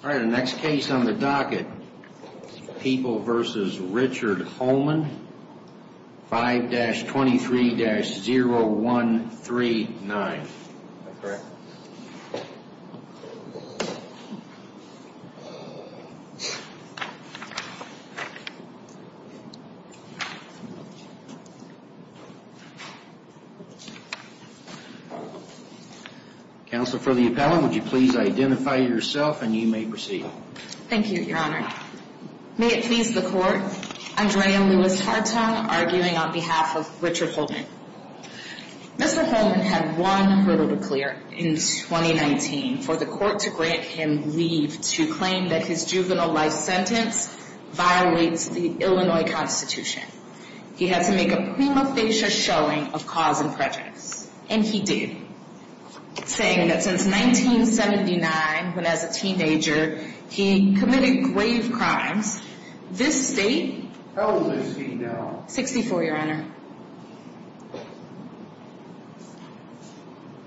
The next case on the docket, People v. Richard Holman, 5-23-0139. Please identify yourself and you may proceed. Thank you, Your Honor. May it please the Court, Andrea Lewis Hartung arguing on behalf of Richard Holman. Mr. Holman had one hurdle to clear in 2019 for the Court to grant him leave to claim that his juvenile life sentence violates the Illinois Constitution. He had to make a prima facie showing of cause and prejudice. And he did, saying that since 1979, when as a teenager he committed grave crimes, this State... How old is he now? 64, Your Honor.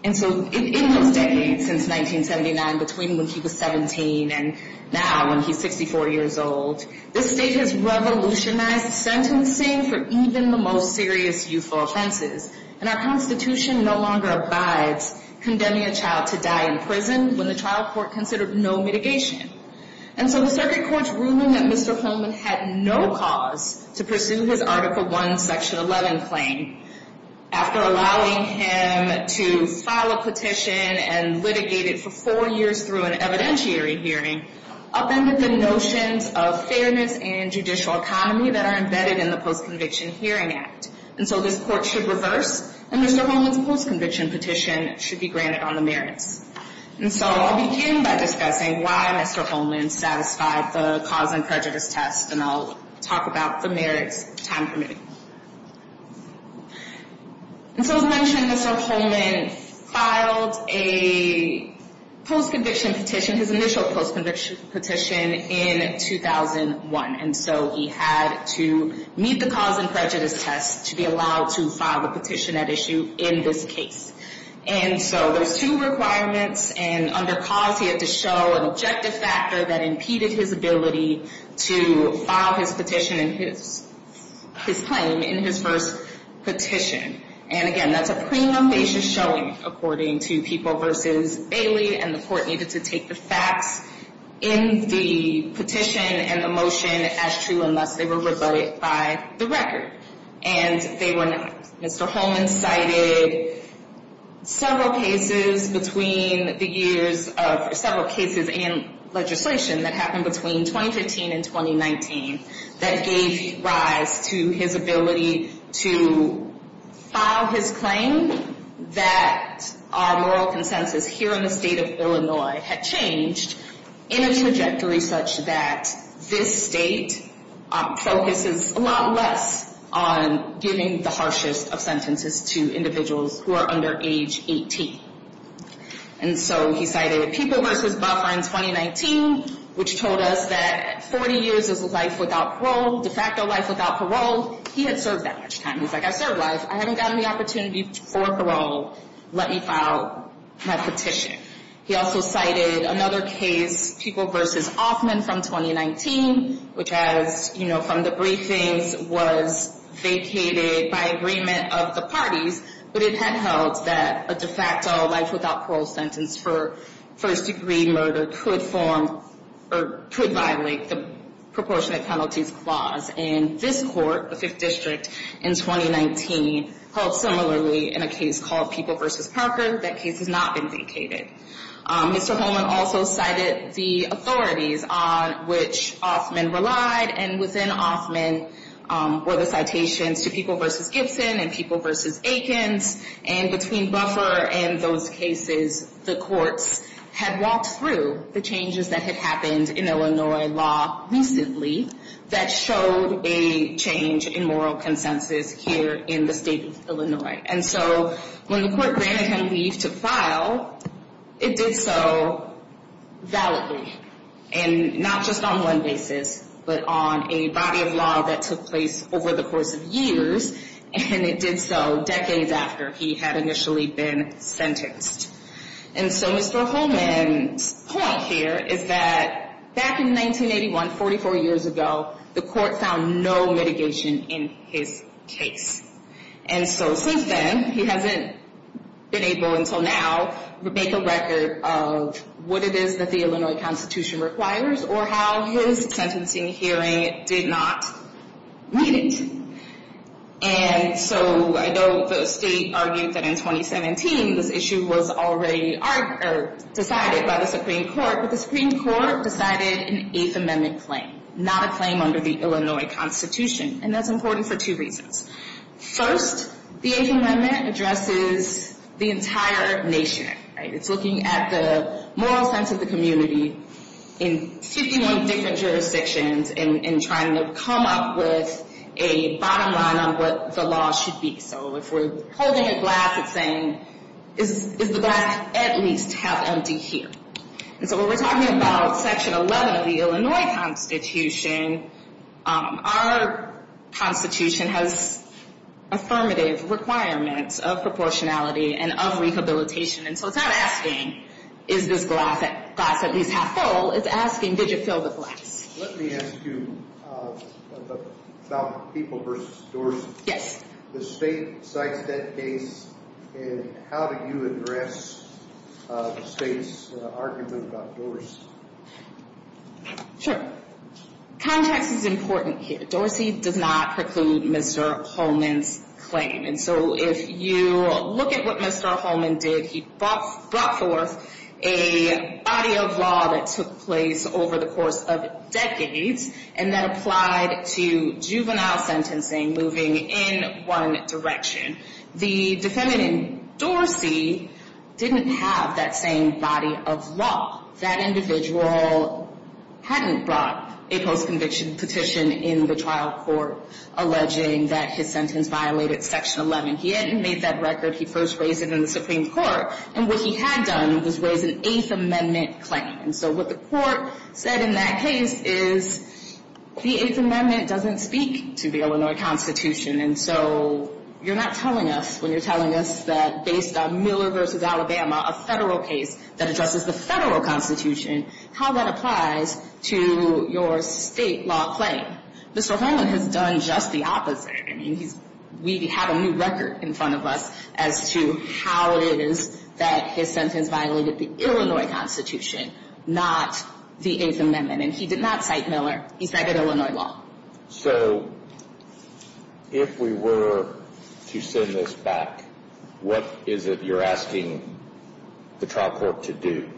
And so in those decades since 1979, between when he was 17 and now when he's 64 years old, this State has revolutionized sentencing for even the most serious youthful offenses. And our Constitution no longer abides condemning a child to die in prison when the trial court considered no mitigation. And so the circuit court's ruling that Mr. Holman had no cause to pursue his Article I, Section 11 claim after allowing him to file a petition and litigate it for four years through an evidentiary hearing upended the notions of fairness and judicial economy that are embedded in the Post-Conviction Hearing Act. And so this Court should reverse, and Mr. Holman's post-conviction petition should be granted on the merits. And so I'll begin by discussing why Mr. Holman satisfied the cause and prejudice test, and I'll talk about the merits time permitting. And so as mentioned, Mr. Holman filed a post-conviction petition, his initial post-conviction petition, in 2001. And so he had to meet the cause and prejudice test to be allowed to file a petition at issue in this case. And so there's two requirements. And under cause, he had to show an objective factor that impeded his ability to file his petition and his claim in his first petition. And again, that's a premonitious showing, according to People v. Bailey, and the Court needed to take the facts in the petition and the motion as true unless they were rebutted by the record. And they were not. Mr. Holman cited several cases between the years of, several cases and legislation that happened between 2015 and 2019 that gave rise to his ability to file his claim, that our moral consensus here in the state of Illinois had changed in a trajectory such that this state focuses a lot less on giving the harshest of sentences to individuals who are under age 18. And so he cited People v. Buffer in 2019, which told us that 40 years is life without parole, de facto life without parole. He had served that much time. He's like, I served life. I haven't gotten the opportunity for parole. Let me file my petition. He also cited another case, People v. Hoffman from 2019, which has, you know, from the briefings was vacated by agreement of the parties. But it had held that a de facto life without parole sentence for first degree murder could form or could violate the proportionate penalties clause. And this court, the Fifth District, in 2019 held similarly in a case called People v. Parker. That case has not been vacated. Mr. Holman also cited the authorities on which Hoffman relied. And within Hoffman were the citations to People v. Gibson and People v. Akins. And between Buffer and those cases, the courts had walked through the changes that had happened in Illinois law recently that showed a change in moral consensus here in the state of Illinois. And so when the court granted him leave to file, it did so validly. And not just on one basis, but on a body of law that took place over the course of years. And it did so decades after he had initially been sentenced. And so Mr. Holman's point here is that back in 1981, 44 years ago, the court found no mitigation in his case. And so since then, he hasn't been able until now to make a record of what it is that the Illinois Constitution requires or how his sentencing hearing did not meet it. And so I know the state argued that in 2017, this issue was already decided by the Supreme Court. But the Supreme Court decided an Eighth Amendment claim, not a claim under the Illinois Constitution. And that's important for two reasons. First, the Eighth Amendment addresses the entire nation. It's looking at the moral sense of the community in 51 different jurisdictions and trying to come up with a bottom line on what the law should be. So if we're holding a glass and saying, is the glass at least half empty here? And so when we're talking about Section 11 of the Illinois Constitution, our Constitution has affirmative requirements of proportionality and of rehabilitation. And so it's not asking, is this glass at least half full? It's asking, did you fill the glass? Let me ask you about People v. Dorsey. Yes. The state cites that case. And how do you address the state's argument about Dorsey? Sure. Context is important here. Dorsey did not preclude Mr. Holman's claim. And so if you look at what Mr. Holman did, he brought forth a body of law that took place over the course of decades and that applied to juvenile sentencing moving in one direction. The defendant in Dorsey didn't have that same body of law. That individual hadn't brought a post-conviction petition in the trial court alleging that his sentence violated Section 11. He hadn't made that record. He first raised it in the Supreme Court. And what he had done was raise an Eighth Amendment claim. And so what the court said in that case is the Eighth Amendment doesn't speak to the Illinois Constitution. And so you're not telling us when you're telling us that based on Miller v. Alabama, a federal case that addresses the federal constitution, how that applies to your state law claim. Mr. Holman has done just the opposite. I mean, we have a new record in front of us as to how it is that his sentence violated the Illinois Constitution, not the Eighth Amendment. And he did not cite Miller. He cited Illinois law. So if we were to send this back, what is it you're asking the trial court to do?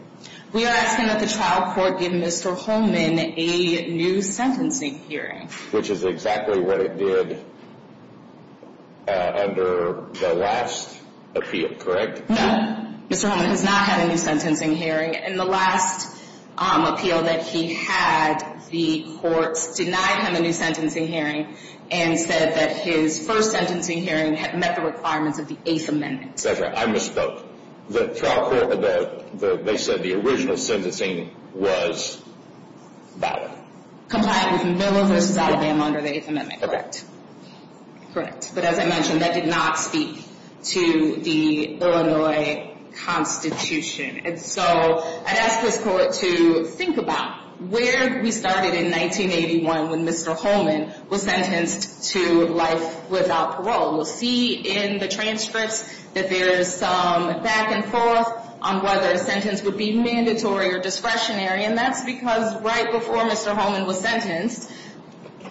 We are asking that the trial court give Mr. Holman a new sentencing hearing. Which is exactly what it did under the last appeal, correct? No. Mr. Holman has not had a new sentencing hearing. In the last appeal that he had, the courts denied him a new sentencing hearing and said that his first sentencing hearing had met the requirements of the Eighth Amendment. That's right. I misspoke. The trial court, they said the original sentencing was violated. Compliant with Miller v. Alabama under the Eighth Amendment. Correct. But as I mentioned, that did not speak to the Illinois Constitution. And so I'd ask this court to think about where we started in 1981 when Mr. Holman was sentenced to life without parole. We'll see in the transcripts that there's some back and forth on whether a sentence would be mandatory or discretionary. And that's because right before Mr. Holman was sentenced,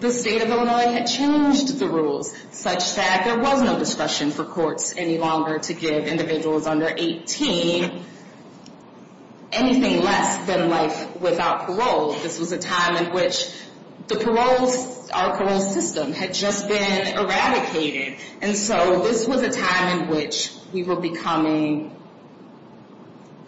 the state of Illinois had changed the rules such that there was no discretion for courts any longer to give individuals under 18 anything less than life without parole. This was a time in which the parole system had just been eradicated. And so this was a time in which we were becoming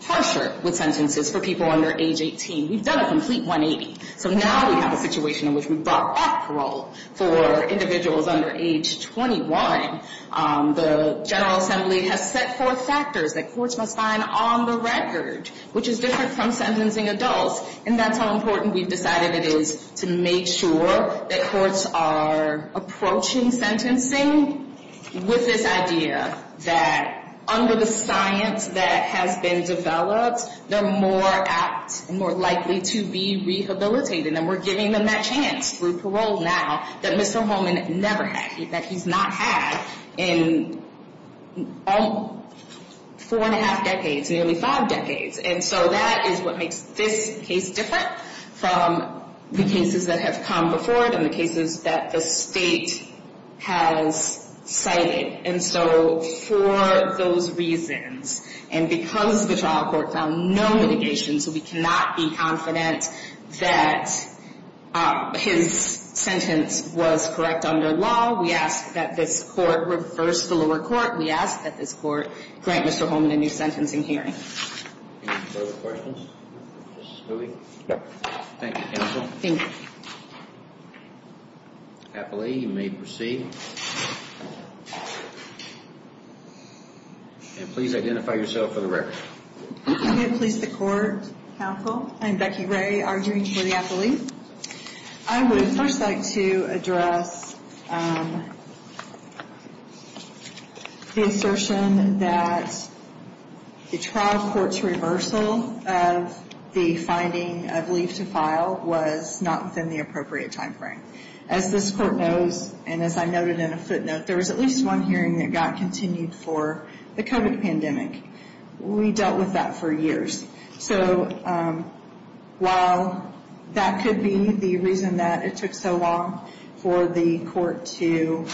harsher with sentences for people under age 18. We've done a complete 180. So now we have a situation in which we brought up parole for individuals under age 21. The General Assembly has set forth factors that courts must find on the record, which is different from sentencing adults. And that's how important we've decided it is to make sure that courts are approaching sentencing with this idea that under the science that has been developed, they're more apt and more likely to be rehabilitated. And we're giving them that chance through parole now that Mr. Holman never had, that he's not had in four and a half decades, nearly five decades. And so that is what makes this case different from the cases that have come before it and the cases that the state has cited. And so for those reasons, and because the trial court found no mitigation, so we cannot be confident that his sentence was correct under law, we ask that this court reverse the lower court. We ask that this court grant Mr. Holman a new sentencing hearing. Any further questions? Thank you, counsel. Thank you. Appellee, you may proceed. And please identify yourself for the record. I'm here to please the court, counsel. I'm Becky Ray, arguing for the appellee. I would first like to address the assertion that the trial court's reversal of the finding of leave to file was not within the appropriate timeframe. As this court knows, and as I noted in a footnote, there was at least one hearing that got continued for the COVID pandemic. We dealt with that for years. So while that could be the reason that it took so long for the court to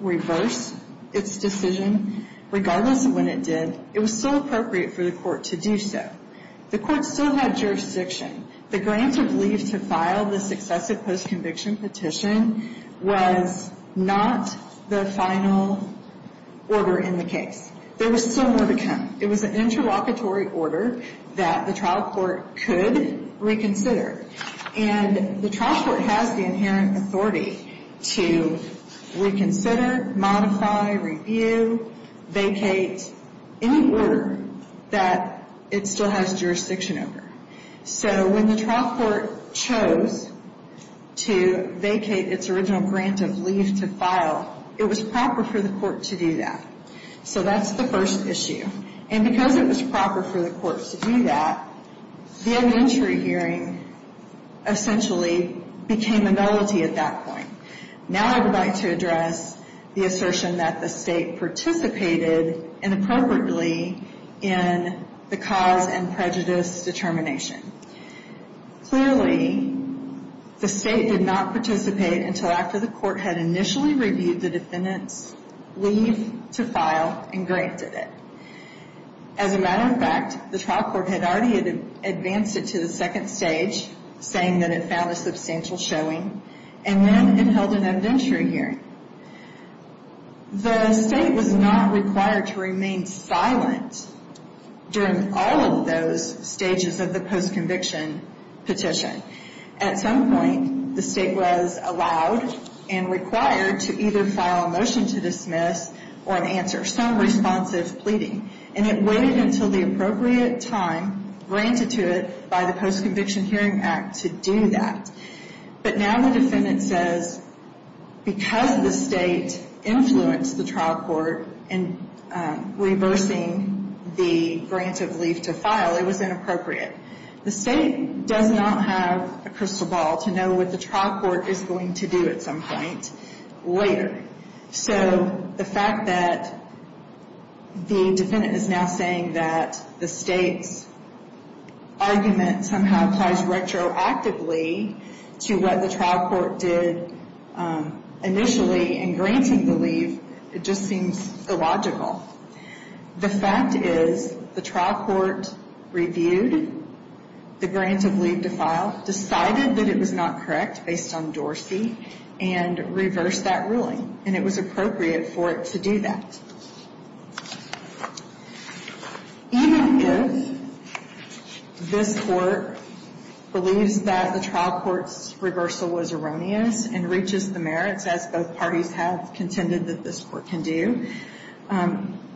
reverse its decision, regardless of when it did, it was still appropriate for the court to do so. The court still had jurisdiction. The grant of leave to file the successive postconviction petition was not the final order in the case. There was still more to come. It was an interlocutory order that the trial court could reconsider. And the trial court has the inherent authority to reconsider, modify, review, vacate any order that it still has jurisdiction over. So when the trial court chose to vacate its original grant of leave to file, it was proper for the court to do that. So that's the first issue. And because it was proper for the court to do that, the inventory hearing essentially became a nullity at that point. Now I would like to address the assertion that the state participated inappropriately in the cause and prejudice determination. Clearly, the state did not participate until after the court had initially reviewed the defendant's leave to file and granted it. As a matter of fact, the trial court had already advanced it to the second stage, saying that it found a substantial showing, and then it held an inventory hearing. The state was not required to remain silent during all of those stages of the postconviction petition. At some point, the state was allowed and required to either file a motion to dismiss or an answer, some responsive pleading. And it waited until the appropriate time granted to it by the Postconviction Hearing Act to do that. But now the defendant says, because the state influenced the trial court in reversing the grant of leave to file, it was inappropriate. The state does not have a crystal ball to know what the trial court is going to do at some point later. So the fact that the defendant is now saying that the state's argument somehow applies retroactively to what the trial court did initially in granting the leave, it just seems illogical. The fact is the trial court reviewed the grant of leave to file, decided that it was not correct based on Dorsey, and reversed that ruling. And it was appropriate for it to do that. Even if this court believes that the trial court's reversal was erroneous and reaches the merits, as both parties have contended that this court can do,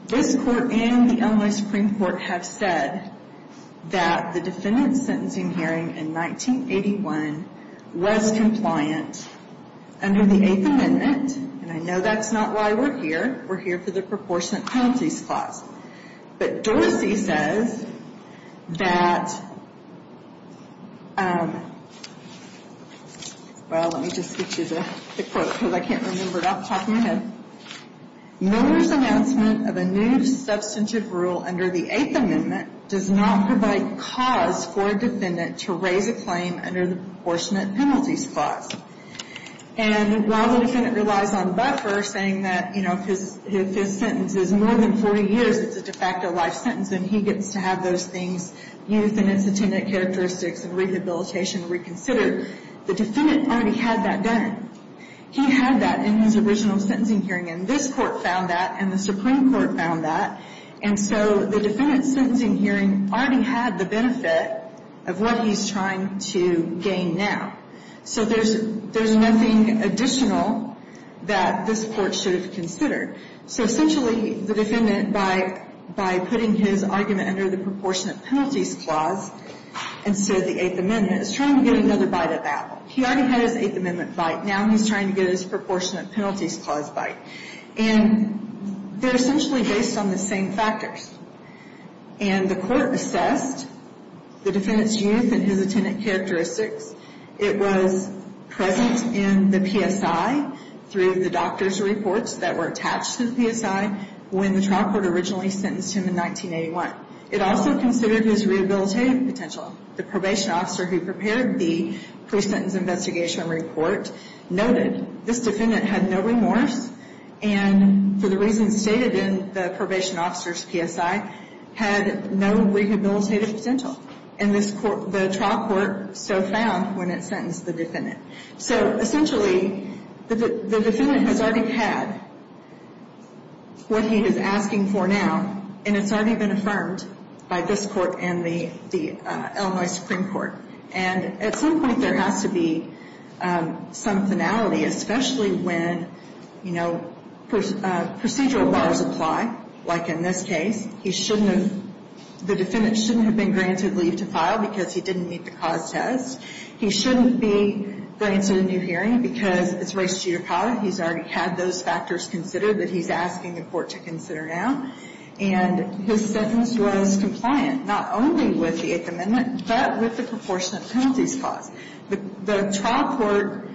this court and the Illinois Supreme Court have said that the defendant's sentencing hearing in 1981 was compliant under the Eighth Amendment. And I know that's not why we're here. We're here for the proportionate penalties clause. But Dorsey says that, well, let me just get you the quote because I can't remember it off the top of my head. Miller's announcement of a new substantive rule under the Eighth Amendment does not provide cause for a defendant to raise a claim under the proportionate penalty clause. And while the defendant relies on buffer, saying that, you know, if his sentence is more than 40 years, it's a de facto life sentence, and he gets to have those things, youth and instantaneous characteristics and rehabilitation reconsidered, the defendant already had that done. He had that in his original sentencing hearing, and this court found that, and the Supreme Court found that. And so the defendant's sentencing hearing already had the benefit of what he's trying to gain now. So there's nothing additional that this court should have considered. So essentially, the defendant, by putting his argument under the proportionate penalties clause instead of the Eighth Amendment, is trying to get another bite at that one. He already had his Eighth Amendment bite. Now he's trying to get his proportionate penalties clause bite. And they're essentially based on the same factors. And the court assessed the defendant's youth and his attendant characteristics. It was present in the PSI through the doctor's reports that were attached to the PSI when the trial court originally sentenced him in 1981. It also considered his rehabilitative potential. The probation officer who prepared the pre-sentence investigation report noted this defendant had no remorse, and for the reasons stated in the probation officer's PSI, had no rehabilitative potential. And the trial court so found when it sentenced the defendant. So essentially, the defendant has already had what he is asking for now, and it's already been affirmed by this court and the Illinois Supreme Court. And at some point, there has to be some finality, especially when, you know, procedural bars apply, like in this case. He shouldn't have the defendant shouldn't have been granted leave to file because he didn't meet the cause test. He shouldn't be granted a new hearing because it's race judicata. He's already had those factors considered that he's asking the court to consider now. And his sentence was compliant, not only with the Eighth Amendment, but with the proportionate penalties clause. The trial court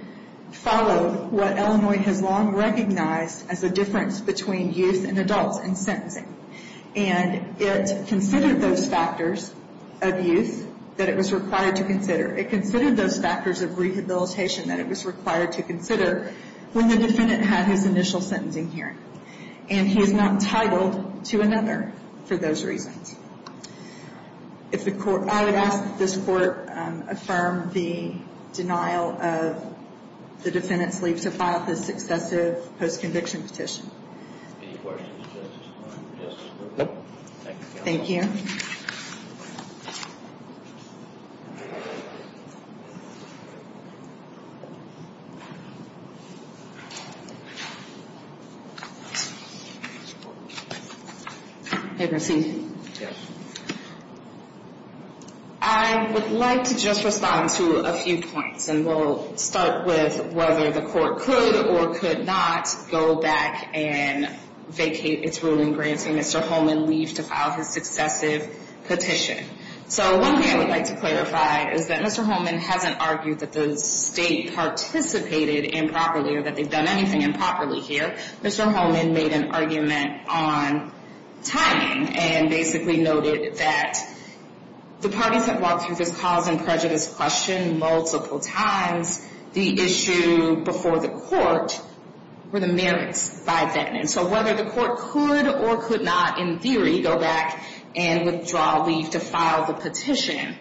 followed what Illinois has long recognized as a difference between youth and adults in sentencing. And it considered those factors of youth that it was required to consider. It considered those factors of rehabilitation that it was required to consider when the defendant had his initial sentencing hearing. And he is not entitled to another for those reasons. I would ask that this court affirm the denial of the defendant's leave to file this successive post-conviction petition. Any questions to this point? Thank you, counsel. Thank you. May we proceed? Yes. I would like to just respond to a few points. And we'll start with whether the court could or could not go back and vacate its ruling granting Mr. Holman leave to file his successive petition. So one thing I would like to clarify is that Mr. Holman hasn't argued that the state participated improperly or that they've done anything improperly here. Mr. Holman made an argument on timing and basically noted that the parties that walked through this cause and prejudice question multiple times, the issue before the court were the merits by then. And so whether the court could or could not, in theory, go back and withdraw leave to file the petition,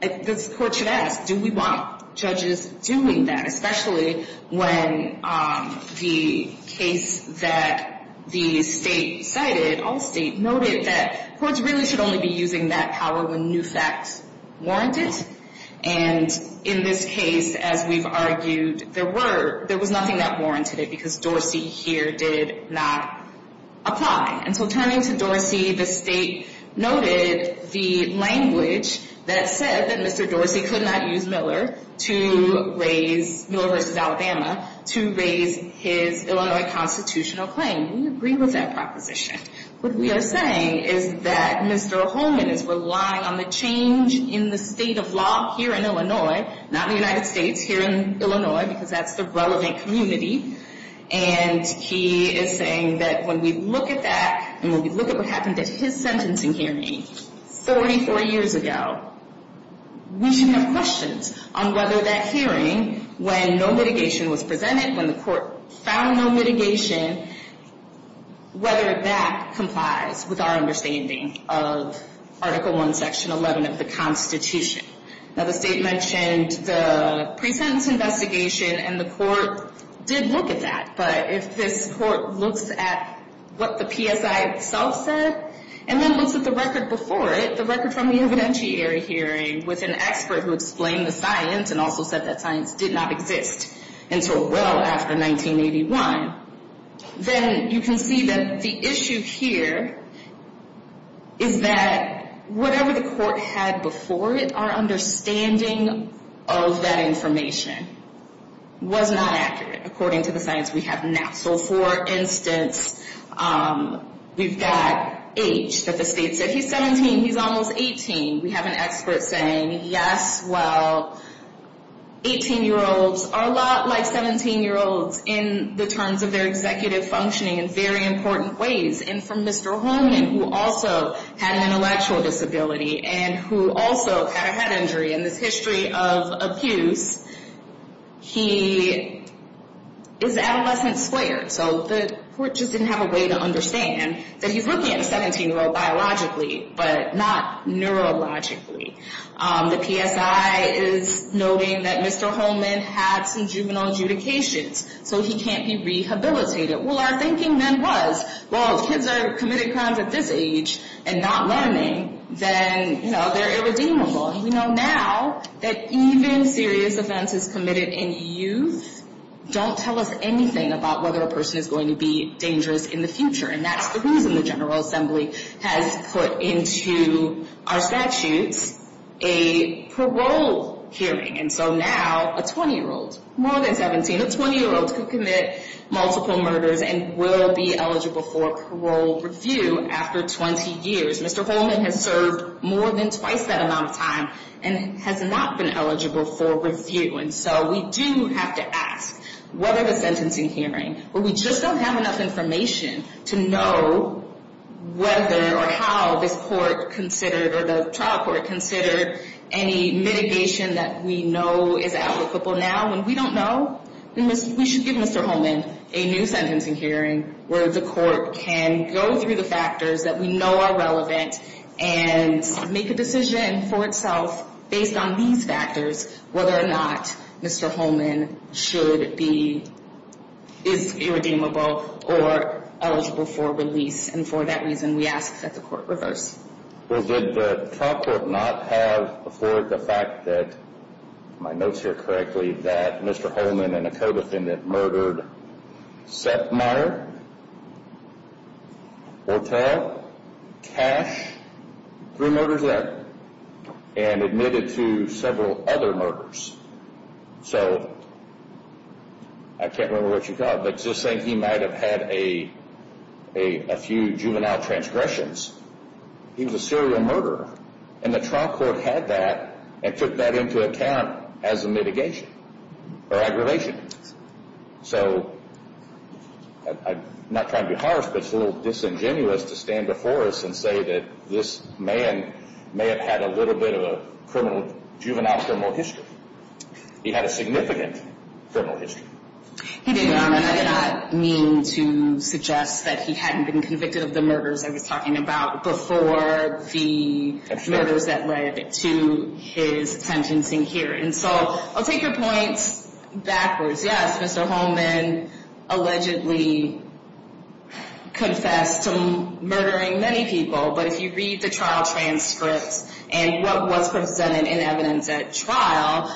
this court should ask, do we want judges doing that? And especially when the case that the state cited, Allstate, noted that courts really should only be using that power when new facts warrant it. And in this case, as we've argued, there was nothing that warranted it because Dorsey here did not apply. And so turning to Dorsey, the state noted the language that said that Mr. Dorsey could not use Miller to raise, Miller v. Alabama, to raise his Illinois constitutional claim. We agree with that proposition. What we are saying is that Mr. Holman is relying on the change in the state of law here in Illinois, not in the United States, here in Illinois, because that's the relevant community. And he is saying that when we look at that and when we look at what happened at his sentencing hearing 44 years ago, we shouldn't have questions on whether that hearing, when no mitigation was presented, when the court found no mitigation, whether that complies with our understanding of Article I, Section 11 of the Constitution. Now, the state mentioned the pre-sentence investigation, and the court did look at that. But if this court looks at what the PSI itself said and then looks at the record before it, the record from the evidentiary hearing with an expert who explained the science and also said that science did not exist until well after 1981, then you can see that the issue here is that whatever the court had before it, our understanding of that information was not accurate, according to the science we have now. So for instance, we've got age that the state said. He's 17, he's almost 18. We have an expert saying, yes, well, 18-year-olds are a lot like 17-year-olds in the terms of their executive functioning in very important ways. And for Mr. Holman, who also had an intellectual disability and who also had a head injury in this history of abuse, he is adolescent squared. So the court just didn't have a way to understand that he's looking at a 17-year-old biologically, but not neurologically. The PSI is noting that Mr. Holman had some juvenile adjudications, so he can't be rehabilitated. Well, our thinking then was, well, if kids are committing crimes at this age and not learning, then they're irredeemable. And we know now that even serious offenses committed in youth don't tell us anything about whether a person is going to be dangerous in the future. And that's the reason the General Assembly has put into our statutes a parole hearing. And so now a 20-year-old, more than 17, a 20-year-old could commit multiple murders and will be eligible for parole review after 20 years. Mr. Holman has served more than twice that amount of time and has not been eligible for review. And so we do have to ask, what are the sentencing hearings? Well, we just don't have enough information to know whether or how this court considered or the trial court considered any mitigation that we know is applicable now. When we don't know, we should give Mr. Holman a new sentencing hearing where the court can go through the factors that we know are relevant and make a decision for itself based on these factors whether or not Mr. Holman should be, is irredeemable or eligible for release. And for that reason, we ask that the court reverse. Well, did the trial court not have before the fact that, my notes here correctly, that Mr. Holman and a co-defendant murdered Setmire, Hortel, Cash, three murders there, and admitted to several other murders. So I can't remember what you got, but just saying he might have had a few juvenile transgressions, he was a serial murderer. And the trial court had that and took that into account as a mitigation or aggravation. So I'm not trying to be harsh, but it's a little disingenuous to stand before us and say that this man may have had a little bit of a juvenile criminal history. He had a significant criminal history. He did, Your Honor. I did not mean to suggest that he hadn't been convicted of the murders I was talking about before the murders that led to his sentencing hearing. So I'll take your points backwards. Yes, Mr. Holman allegedly confessed to murdering many people, but if you read the trial transcripts and what was presented in evidence at trial,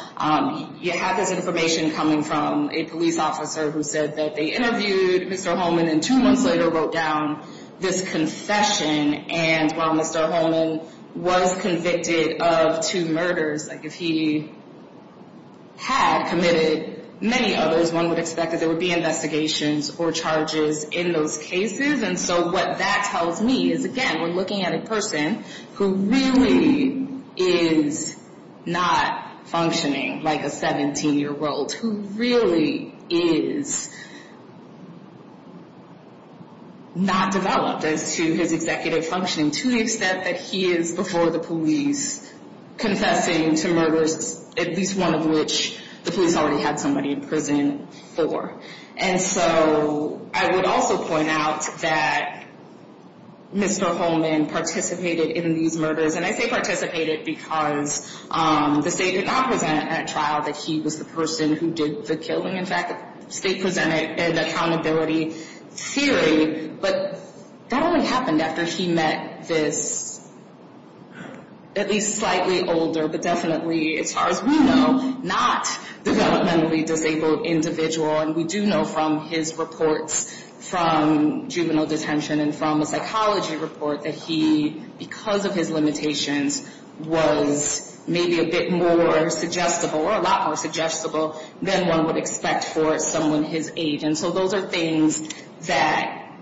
you have this information coming from a police officer who said that they interviewed Mr. Holman and two months later wrote down this confession. And while Mr. Holman was convicted of two murders, like if he had committed many others, one would expect that there would be investigations or charges in those cases. And so what that tells me is, again, we're looking at a person who really is not functioning like a 17-year-old, who really is not developed as to his executive functioning to the extent that he is before the police confessing to murders, at least one of which the police already had somebody in prison for. And so I would also point out that Mr. Holman participated in these murders, and I say participated because the state did not present at trial that he was the person who did the killing. In fact, the state presented an accountability theory, but that only happened after he met this at least slightly older, but definitely, as far as we know, not developmentally disabled individual. And we do know from his reports from juvenile detention and from a psychology report that he, because of his limitations, was maybe a bit more suggestible or a lot more suggestible than one would expect for someone his age. And so those are things that,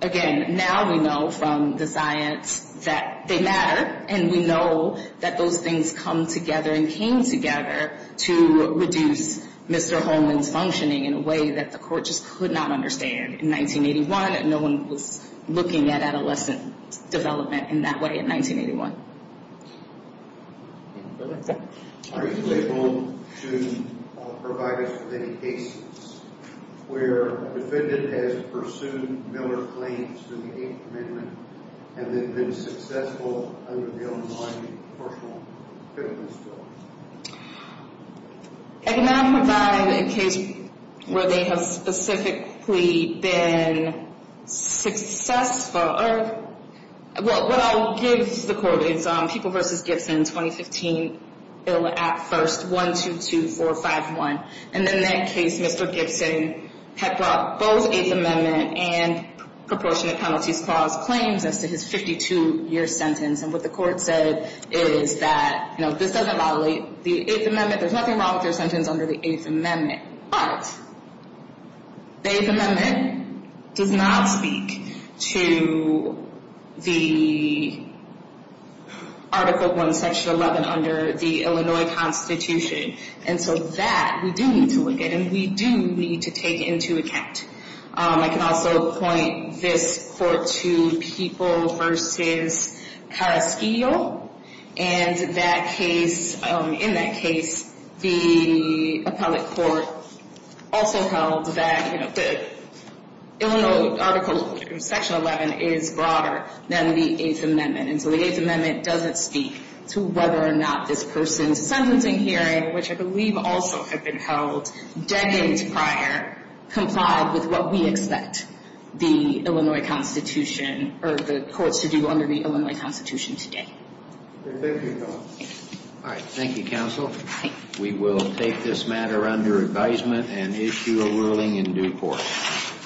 again, now we know from the science that they matter, and we know that those things come together and came together to reduce Mr. Holman's functioning in a way that the court just could not understand in 1981, and no one was looking at adolescent development in that way in 1981. Are you able to provide us with any cases where a defendant has pursued Miller claims to the Eighth Amendment and they've been successful under their own mind in the course of a criminal story? I cannot provide a case where they have specifically been successful. What I'll give the court is People v. Gibson, 2015, Bill at First, 122451. And in that case, Mr. Gibson had brought both Eighth Amendment and proportionate penalties clause claims as to his 52-year sentence. And what the court said is that, you know, this doesn't violate the Eighth Amendment. There's nothing wrong with your sentence under the Eighth Amendment. But the Eighth Amendment does not speak to the Article 1, Section 11 under the Illinois Constitution. And so that we do need to look at, and we do need to take into account. I can also point this court to People v. Carrasquillo. And in that case, the appellate court also held that the Illinois Article Section 11 is broader than the Eighth Amendment. And so the Eighth Amendment doesn't speak to whether or not this person's sentencing hearing, which I believe also had been held decades prior, complied with what we expect the Illinois Constitution, or the courts to do under the Illinois Constitution today. Thank you. All right. Thank you, counsel. We will take this matter under advisement and issue a ruling in due course.